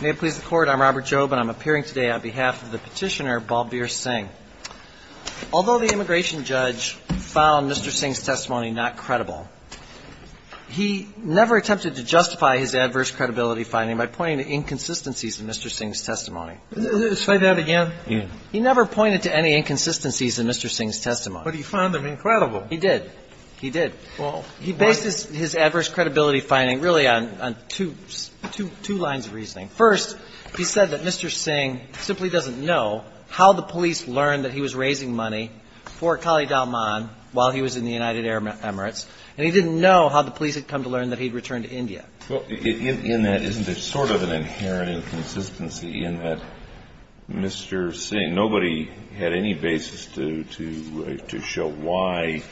May it please the Court, I'm Robert Jobe and I'm appearing today on behalf of the Petitioner, Balbir Singh. Although the immigration judge found Mr. Singh's testimony not credible, he never attempted to justify his adverse credibility finding by pointing to inconsistencies in Mr. Singh's testimony. Say that again. He never pointed to any inconsistencies in Mr. Singh's testimony. But he found them incredible. He did. He did. He based his adverse credibility finding really on two lines of reasoning. First, he said that Mr. Singh simply doesn't know how the police learned that he was raising money for Kali Dalman while he was in the United Arab Emirates, and he didn't know how the police had come to learn that he had returned to India. Well, in that, isn't there sort of an inherent inconsistency in that Mr. Singh, I mean, nobody had any basis to show why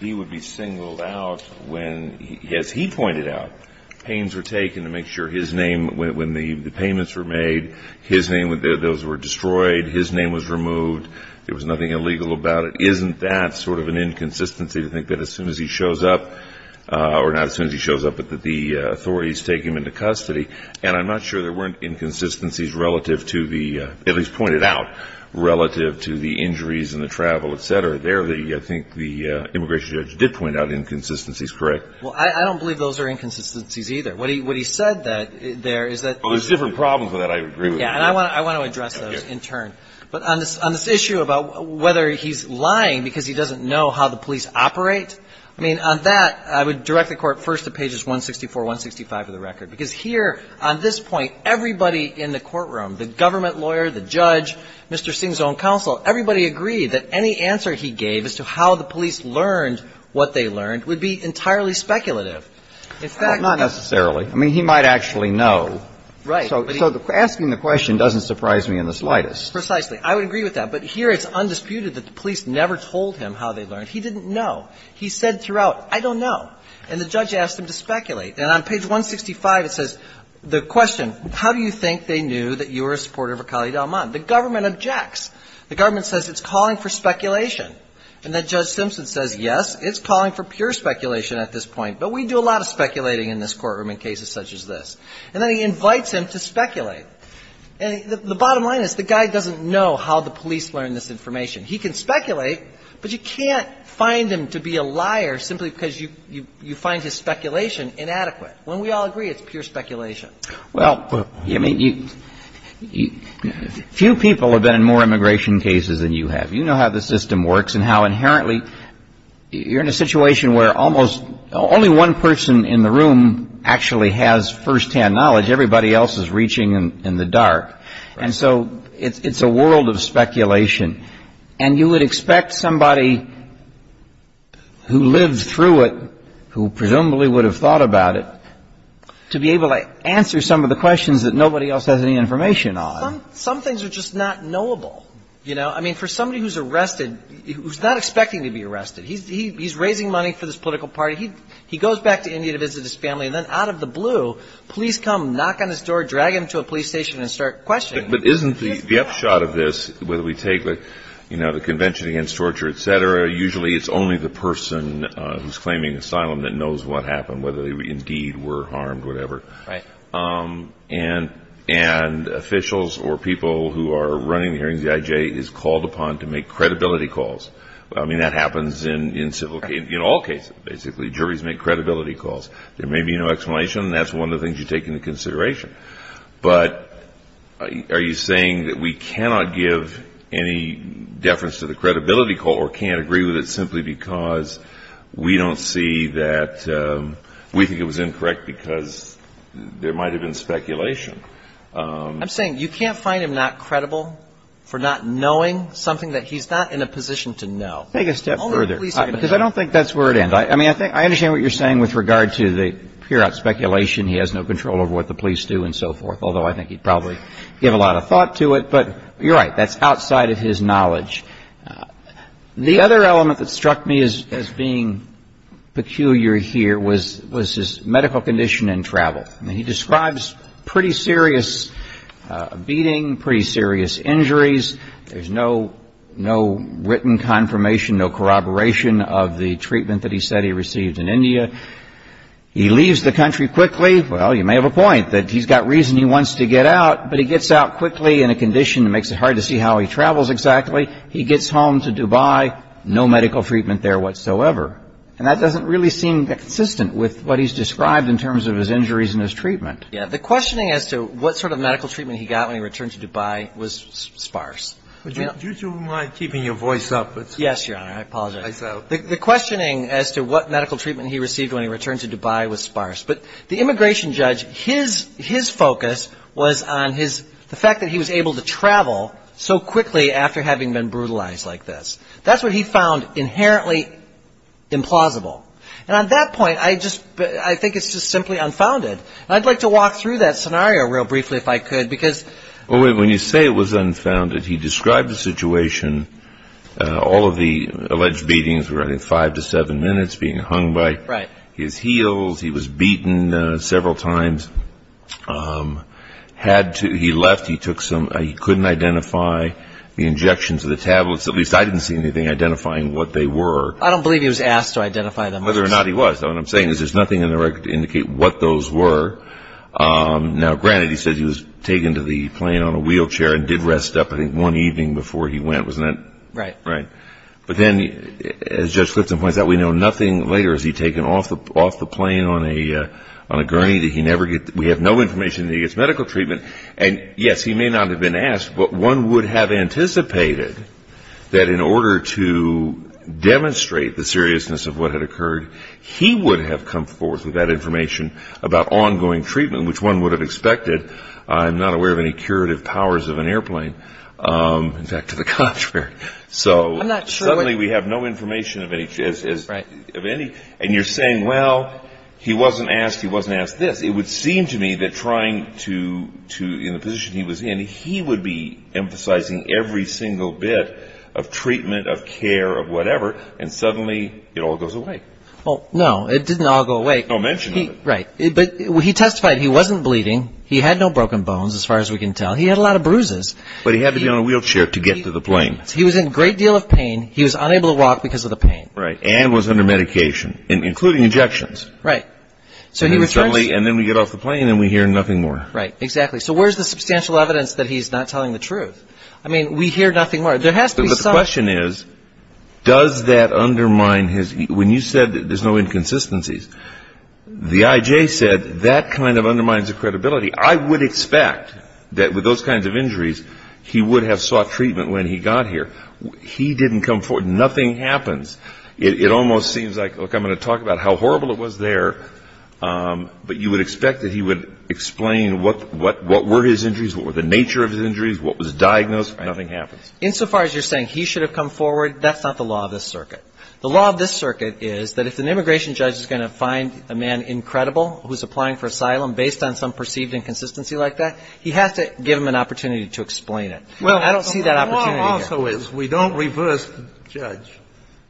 he would be singled out when, as he pointed out, pains were taken to make sure his name, when the payments were made, his name, those were destroyed, his name was removed, there was nothing illegal about it. Isn't that sort of an inconsistency to think that as soon as he shows up, or not as soon as he shows up, but that the authorities take him into custody? And I'm not sure there weren't inconsistencies relative to the, at least pointed out, relative to the injuries and the travel, et cetera. There, I think the immigration judge did point out inconsistencies, correct? Well, I don't believe those are inconsistencies either. What he said there is that... Well, there's different problems with that, I agree with you. Yeah, and I want to address those in turn. But on this issue about whether he's lying because he doesn't know how the police operate, I mean, on that, I would direct the Court first to pages 164, 165 of the statute. On this point, everybody in the courtroom, the government lawyer, the judge, Mr. Singh's own counsel, everybody agreed that any answer he gave as to how the police learned what they learned would be entirely speculative. In fact... Well, not necessarily. I mean, he might actually know. Right. So asking the question doesn't surprise me in the slightest. Precisely. I would agree with that. But here it's undisputed that the police never told him how they learned. He didn't know. He said throughout, I don't know. And the judge asked him to speculate. And on page 165, it says, the question, how do you think they knew that you were a supporter of Akali Dalman? The government objects. The government says it's calling for speculation. And then Judge Simpson says, yes, it's calling for pure speculation at this point, but we do a lot of speculating in this courtroom in cases such as this. And then he invites him to speculate. And the bottom line is, the guy doesn't know how the police learned this information. He can speculate, but you can't find him to be a liar simply because you find his information inadequate. When we all agree, it's pure speculation. Well, I mean, few people have been in more immigration cases than you have. You know how the system works and how inherently you're in a situation where almost only one person in the room actually has first-hand knowledge. Everybody else is reaching in the dark. And so it's a world of speculation. And you would expect somebody who lived through it, who presumably would have thought about it, to be able to answer some of the questions that nobody else has any information on. Some things are just not knowable, you know? I mean, for somebody who's arrested, who's not expecting to be arrested. He's raising money for this political party. He goes back to India to visit his family. And then out of the blue, police come, knock on his door, drag him to a police station and start questioning him. But isn't the upshot of this, whether we take, you know, the Convention Against Torture, et cetera, usually it's only the person who's claiming asylum that knows what happened, whether they indeed were harmed, whatever. And officials or people who are running the hearings, the IJ, is called upon to make credibility calls. I mean, that happens in all cases, basically. Juries make credibility calls. There may be no explanation. That's one of the things you take into consideration. But are you saying that we cannot give any deference to the credibility call or can't agree with it simply because we don't see that we think it was incorrect because there might have been speculation? I'm saying you can't find him not credible for not knowing something that he's not in a position to know. Take it a step further. Because I don't think that's where it ends. I mean, I understand what you're saying with regard to the pure speculation he has no control over what the police do and so forth, although I think he would probably give a lot of thought to it. But you're right. That's outside of his knowledge. The other element that struck me as being peculiar here was his medical condition and travel. I mean, he describes pretty serious beating, pretty serious injuries. There's no written confirmation, no corroboration of the treatment that he said he received in India. He leaves the country quickly. Well, you may have a point that he's got reason he wants to get out. But he gets out quickly in a condition that makes it hard to see how he travels exactly. He gets home to Dubai. No medical treatment there whatsoever. And that doesn't really seem consistent with what he's described in terms of his injuries and his treatment. Yeah. The questioning as to what sort of medical treatment he got when he returned to Dubai was sparse. Do you mind keeping your voice up? Yes, Your Honor. I apologize. The questioning as to what medical treatment he received when he returned to Dubai was sparse. But the immigration judge, his focus was on the fact that he was able to travel so quickly after having been brutalized like this. That's what he found inherently implausible. And at that point, I think it's just simply unfounded. And I'd like to walk through that scenario real briefly if I could because When you say it was unfounded, he described the situation, all of the alleged beatings were five to seven minutes, being hung by his heels. He was beaten several times. He left. He couldn't identify the injections or the tablets. At least I didn't see anything identifying what they were. I don't believe he was asked to identify them. Whether or not he was. What I'm saying is there's nothing in the record to indicate what those were. Now, granted, he said he was taken to the plane on a wheelchair and did rest up, I think, one evening before he went, wasn't it? Right. Right. But then, as Judge Clifton points out, we know nothing later. Has he taken off the plane on a gurney? We have no information that he gets medical treatment. And, yes, he may not have been asked, but one would have anticipated that in order to demonstrate the seriousness of what had occurred, he would have come forth with that information about ongoing treatment, which one would have expected. I'm not aware of any curative powers of an airplane. In fact, to the contrary. I'm not sure. Suddenly we have no information of any. And you're saying, well, he wasn't asked this. It would seem to me that trying to, in the position he was in, he would be emphasizing every single bit of treatment, of care, of whatever, and suddenly it all goes away. No, it didn't all go away. No mention of it. Right. But he testified he wasn't bleeding. He had no broken bones, as far as we can tell. He had a lot of bruises. But he had to be on a wheelchair to get to the plane. He was in great deal of pain. He was unable to walk because of the pain. Right. And was under medication, including injections. Right. And then we get off the plane and we hear nothing more. Right. Exactly. So where's the substantial evidence that he's not telling the truth? I mean, we hear nothing more. But the question is, does that undermine his, when you said there's no inconsistencies, the I.J. said that kind of undermines the credibility. I would expect that with those kinds of injuries, he would have sought treatment when he got here. He didn't come forward. Nothing happens. It almost seems like, look, I'm going to talk about how horrible it was there, but you would expect that he would explain what were his injuries, what were the nature of his injuries, what was diagnosed. Right. Nothing happens. Insofar as you're saying he should have come forward, that's not the law of this circuit. The law of this circuit is that if an immigration judge is going to find a man incredible who's applying for asylum based on some perceived inconsistency like that, he has to give him an opportunity to explain it. Well, I don't see that opportunity here. Well, the law also is we don't reverse the judge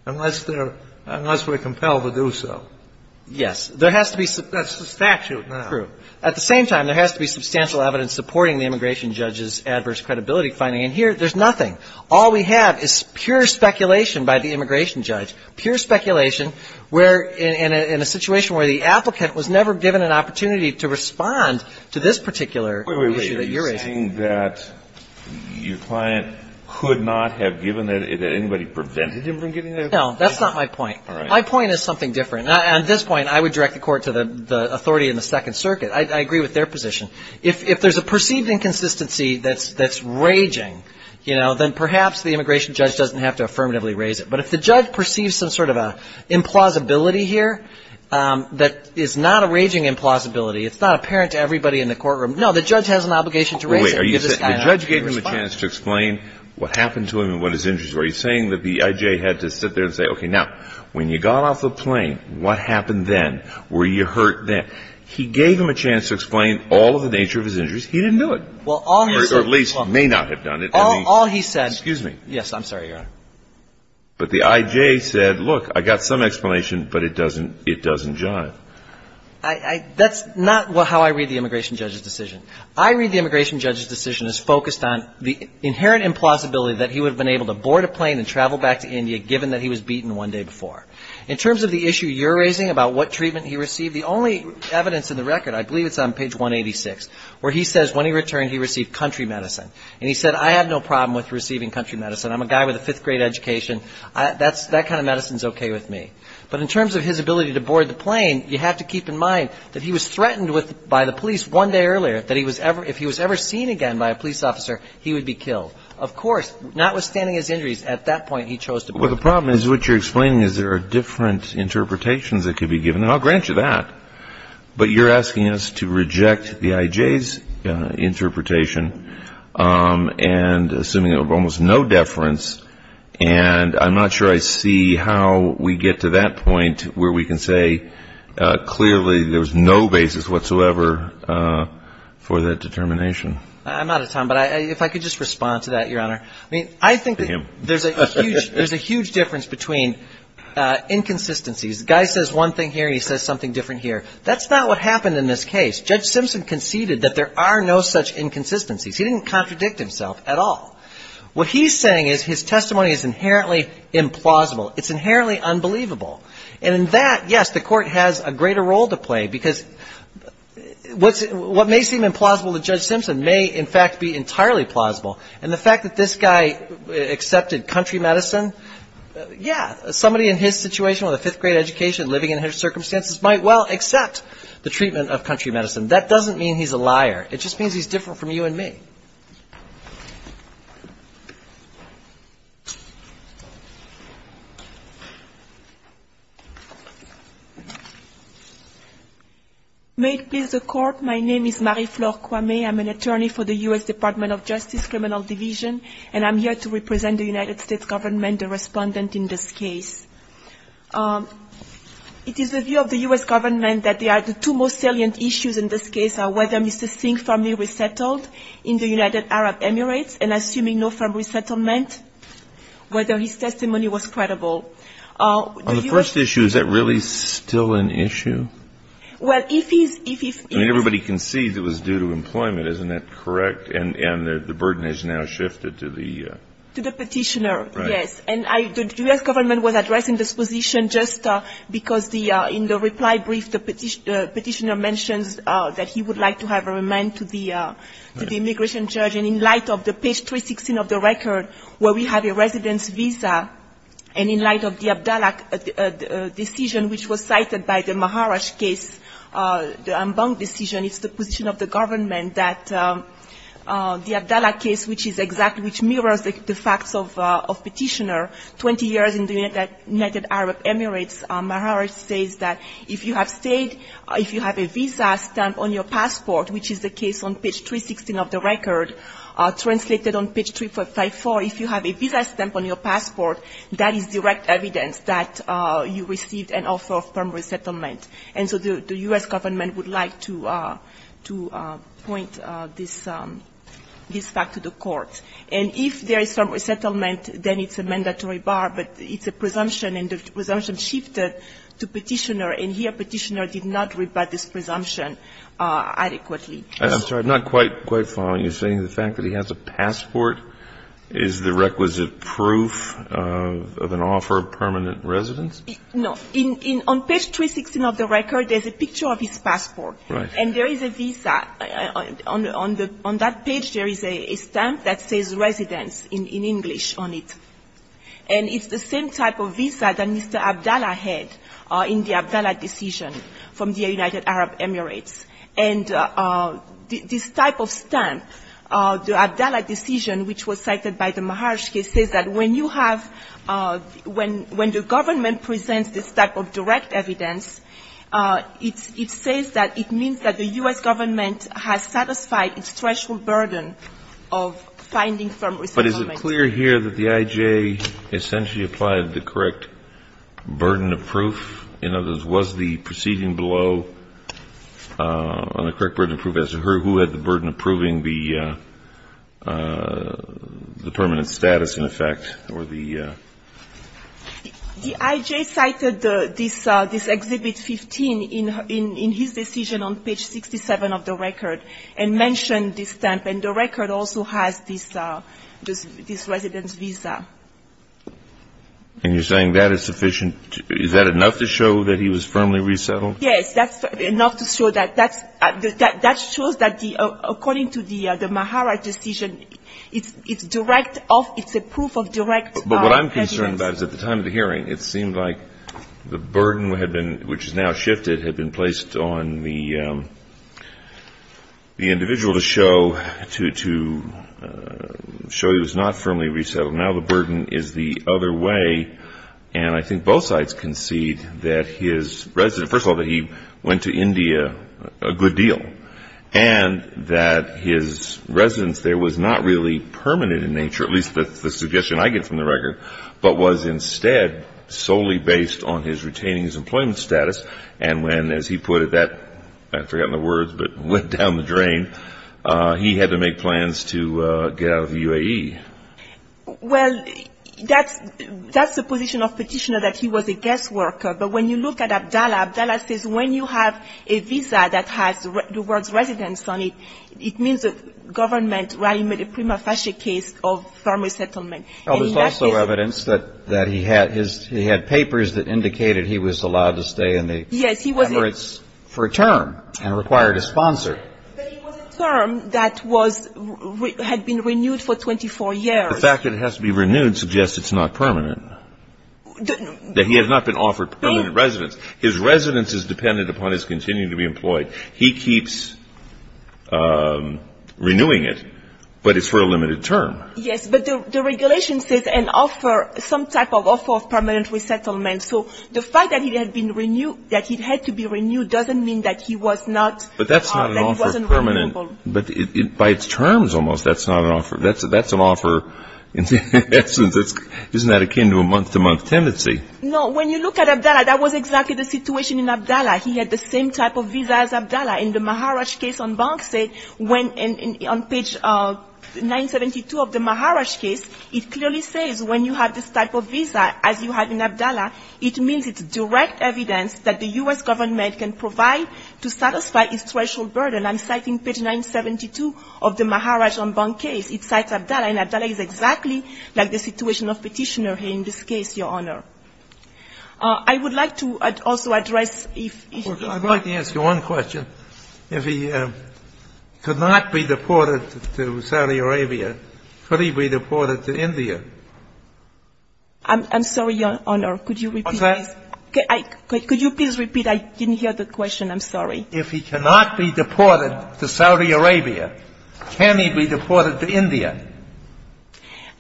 unless they're, unless we're compelled to do so. Yes. There has to be... That's the statute now. True. At the same time, there has to be substantial evidence supporting the immigration judge's adverse credibility finding. And here, there's nothing. All we have is pure speculation by the immigration judge, pure speculation where, in a situation where the applicant was never given an opportunity to respond to this particular issue that you're raising. So you're saying that your client could not have given it, that anybody prevented him from getting that opportunity? No. That's not my point. All right. My point is something different. At this point, I would direct the court to the authority in the Second Circuit. I agree with their position. If there's a perceived inconsistency that's raging, you know, then perhaps the immigration judge doesn't have to affirmatively raise it. But if the judge perceives some sort of an implausibility here that is not a raging implausibility, it's not apparent to everybody in the courtroom. No. The judge has an obligation to raise it. Wait. The judge gave him a chance to explain what happened to him and what his injuries were. Are you saying that the I.J. had to sit there and say, okay, now, when you got off the plane, what happened then? Were you hurt then? He gave him a chance to explain all of the nature of his injuries. He didn't do it. Or at least may not have done it. All he said. Excuse me. Yes. I'm sorry, Your Honor. But the I.J. said, look, I got some explanation, but it doesn't jive. That's not how I read the immigration judge's decision. I read the immigration judge's decision as focused on the inherent implausibility that he would have been able to board a plane and travel back to India, given that he was beaten one day before. In terms of the issue you're raising about what treatment he received, the only evidence in the record, I believe it's on page 186, where he says when he returned, he received country medicine. And he said, I have no problem with receiving country medicine. I'm a guy with a fifth grade education. That kind of medicine is okay with me. But in terms of his ability to board the plane, you have to keep in mind that he was threatened by the police one day earlier that if he was ever seen again by a police officer, he would be killed. Of course, notwithstanding his injuries, at that point, he chose to board the plane. Well, the problem is what you're explaining is there are different interpretations that could be given. And I'll grant you that. But you're asking us to reject the I.J.'s interpretation and assuming almost no deference, and I'm not sure I see how we get to that point where we can say clearly there was no basis whatsoever for that determination. I'm out of time. But if I could just respond to that, Your Honor. I mean, I think there's a huge difference between inconsistencies. The guy says one thing here and he says something different here. That's not what happened in this case. Judge Simpson conceded that there are no such inconsistencies. He didn't contradict himself at all. What he's saying is his testimony is inherently implausible. It's inherently unbelievable. And in that, yes, the court has a greater role to play because what may seem implausible to Judge Simpson may in fact be entirely plausible. And the fact that this guy accepted country medicine, yeah, somebody in his situation with a fifth-grade education living in his circumstances might well accept the treatment of country medicine. That doesn't mean he's a liar. It just means he's different from you and me. Thank you. May it please the court. My name is Marie-Flore Kwame. I'm an attorney for the U.S. Department of Justice Criminal Division and I'm here to represent the United States government, the respondent in this case. It is the view of the U.S. government that the two most salient issues in this case are whether Mr. Singh firmly resettled in the United States with the United Arab Emirates and assuming no firm resettlement, whether his testimony was credible. On the first issue, is that really still an issue? Well, if he's... I mean, everybody concedes it was due to employment. Isn't that correct? And the burden has now shifted to the... To the petitioner, yes. Right. And the U.S. government was addressing this position just because in the reply brief the petitioner mentions that he would like to remain to the immigration judge. And in light of the page 316 of the record where we have a residence visa and in light of the Abdallah decision which was cited by the Maharaj case, the Ambang decision, it's the position of the government that the Abdallah case, which is exactly, which mirrors the facts of petitioner, 20 years in the United Arab Emirates, Maharaj says that if you have stayed, if you have a visa stamped on your passport, which is the case on page 316 of the record, translated on page 354, if you have a visa stamped on your passport, that is direct evidence that you received an offer of permanent resettlement. And so the U.S. government would like to point this fact to the court. And if there is permanent resettlement, then it's a mandatory bar, but it's a presumption and the presumption shifted to petitioner and here petitioner did not rebut this presumption adequately. I'm sorry, I'm not quite following you. You're saying the fact that he has a passport is the requisite proof of an offer of permanent residence? No. On page 316 of the record, there's a picture of his passport. Right. And there is a visa. On that page, there is a stamp that says residence in English on it. And it's the same type of visa that Mr. Abdallah had in the United Arab Emirates. And this type of stamp, the Abdallah decision, which was cited by the Maharshi case, says that when you have, when the government presents this type of direct evidence, it says that it means that the U.S. government has satisfied its threshold burden of finding permanent resettlement. But is it clear here that the I.J. essentially applied the correct burden of proof? You know, was the proceeding below on the correct burden of proof? As to who had the burden of proving the permanent status, in effect, or the? The I.J. cited this Exhibit 15 in his decision on page 67 of the record, and mentioned this stamp. And the record also has this residence visa. And you're saying that is sufficient? Is that enough to show that he was firmly resettled? Yes, that's enough to show that. That shows that the, according to the Mahara decision, it's direct of, it's a proof of direct evidence. But what I'm concerned about is at the time of the hearing, it seemed like the burden had been, which is now shifted, had been placed on the individual to show, to show he was not firmly resettled. Now the burden is the other way. And I think both sides concede that his residence, first of all, that he went to India a good deal. And that his residence there was not really permanent in nature, at least that's the suggestion I get from the record, but was instead solely based on his retaining his employment status. And when, as he put it, that, I've forgotten the words, but went down the drain, he had to make plans to get out of the UAE. Well, that's, that's the position of petitioner, that he was a guest worker. But when you look at Abdallah, Abdallah says when you have a visa that has the words residence on it, it means that government rallied, made a prima facie case of firm resettlement. Well, there's also evidence that, that he had his, he had papers that indicated he was allowed to stay in the Emirates for a term and required a sponsor. But it was a term that was, had been renewed for 24 years. The fact that it has to be renewed suggests it's not permanent. That he has not been offered permanent residence. His residence is dependent upon his continuing to be employed. He keeps renewing it, but it's for a limited term. Yes, but the regulation says an offer, some type of offer of permanent resettlement. So the fact that it had been renewed, that it had to be renewed doesn't mean that he was not But that's not an offer of permanent, but by its terms almost, that's not an offer. That's an offer, in essence, isn't that akin to a month-to-month tendency? No, when you look at Abdallah, that was exactly the situation in Abdallah. He had the same type of visa as Abdallah. In the Maharaj case on Banksy, when on page 972 of the Maharaj case, it clearly says when you have this type of visa, as you have in Abdallah, it means it's direct evidence that the U.S. government can provide to satisfy its threshold burden. I'm citing page 972 of the Maharaj on Banksy. It cites Abdallah, and Abdallah is exactly like the situation of Petitioner here in this case, Your Honor. I would like to also address if I'd like to ask you one question. If he could not be deported to Saudi Arabia, could he be deported to India? I'm sorry, Your Honor, could you repeat this? Could you please repeat? I didn't hear the question. I'm sorry. If he cannot be deported to Saudi Arabia, can he be deported to India?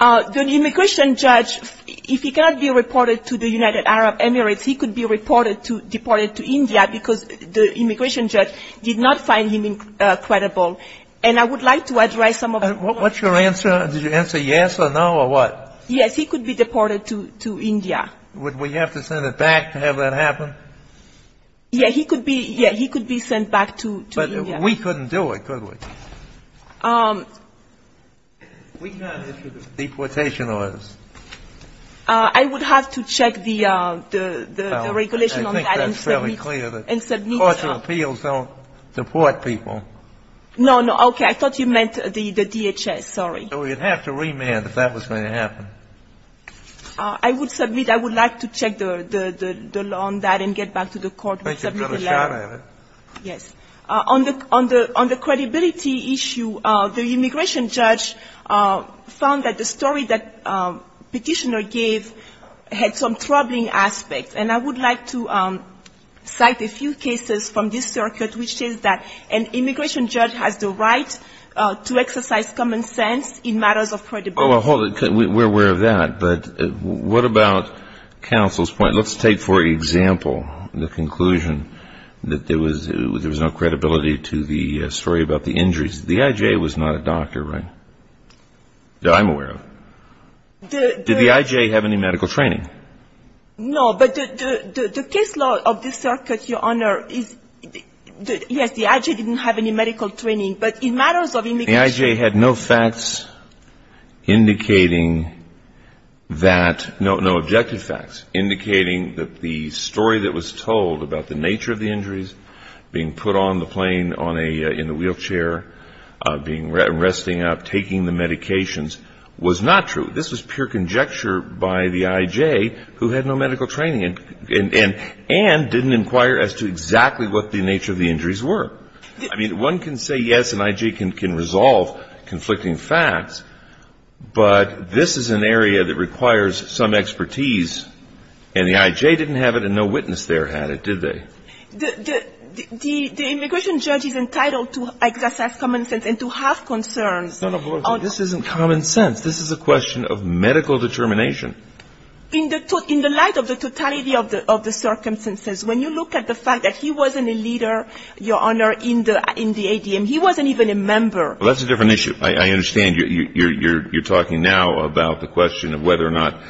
The immigration judge, if he cannot be reported to the United Arab Emirates, he could be reported to India because the immigration judge did not find him credible. And I would like to address some of the What's your answer? Did you answer yes or no or what? Yes, he could be deported to India. Would we have to send it back to have that happen? Yeah, he could be sent back to India. But we couldn't do it, could we? We cannot issue the deportation orders. I would have to check the regulation on that and submit. I think that's fairly clear. The courts of appeals don't deport people. No, no. Okay, I thought you meant the DHS. Sorry. We would have to remand if that was going to happen. I would submit I would like to check the law on that and get back to the court and submit the letter. Thank you for the shot at it. Yes. On the credibility issue, the immigration judge found that the story that the petitioner gave had some troubling aspects. And I would like to cite a few cases from this circuit which is that an immigration judge has the right to exercise common sense in matters of credibility. Well, hold it. We're aware of that. But what about counsel's point? Let's take for example the conclusion that there was no credibility to the story about the injuries. The I.J. was not a doctor, right? That I'm aware of. Did the I.J. have any medical training? No. But the case law of this circuit, Your Honor, yes, the I.J. didn't have any medical training. But in matters of immigration... Indicating that... No objective facts. Indicating that the story that was told about the nature of the injuries, being put on the plane in a wheelchair, resting up, taking the medications, was not true. This was pure conjecture by the I.J. who had no medical training and didn't inquire as to exactly what the nature of the injuries were. I mean, one can say, yes, an I.J. can resolve conflicting facts, but this is an area that requires some expertise and the I.J. didn't have it and no witness there had it, did they? The immigration judge is entitled to exercise common sense and to have concerns. No, no, this isn't common sense. This is a question of medical determination. In the light of the totality of the circumstances, when you look at the fact that he wasn't a leader, Your Honor, in the ADM, he wasn't even a member... Well, that's a different issue. I understand you're talking now about the question of whether or not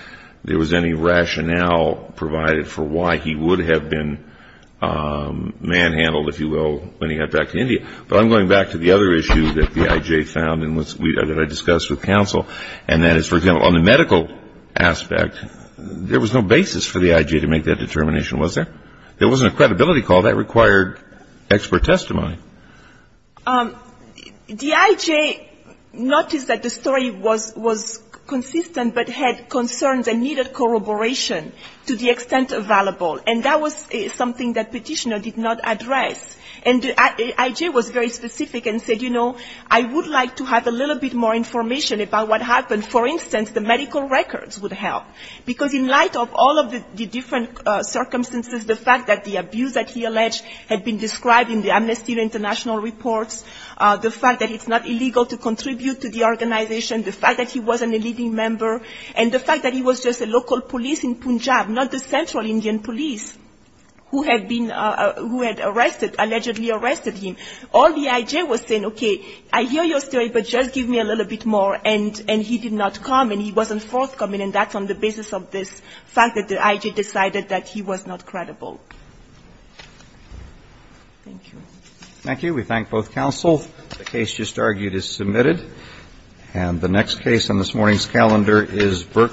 there was any rationale provided for why he would have been manhandled, if you will, when he got back to India. But I'm going back to the other issue that the I.J. found and that I discussed with counsel, and that is, for example, on the medical aspect, there was no basis for the I.J. to make that determination, was there? There wasn't a credibility call. That required expert testimony. The I.J. noticed that the story was consistent but had concerns and needed corroboration to the extent available. And that was something that the petitioner did not address. And the I.J. was very specific and said, you know, I would like to have a little bit more information about what happened. For instance, the medical records would help. Because in light of all of the different circumstances, the fact that the abuse that he alleged had been described in the Amnesty International reports, the fact that it's not illegal to contribute to the organization, the fact that he wasn't a leading member, and the fact that he was just a local police in Punjab, not the central Indian police who had been, who had arrested, allegedly arrested him. All the I.J. was saying, okay, I hear your story but just give me a little bit more. And he did not come and he wasn't forthcoming and that's on the basis of this fact that the I.J. decided that he was not credible. Thank you. Thank you. We thank both counsel. The case just argued is submitted. And the next case on this morning's calendar is Burke v. Gonzalez.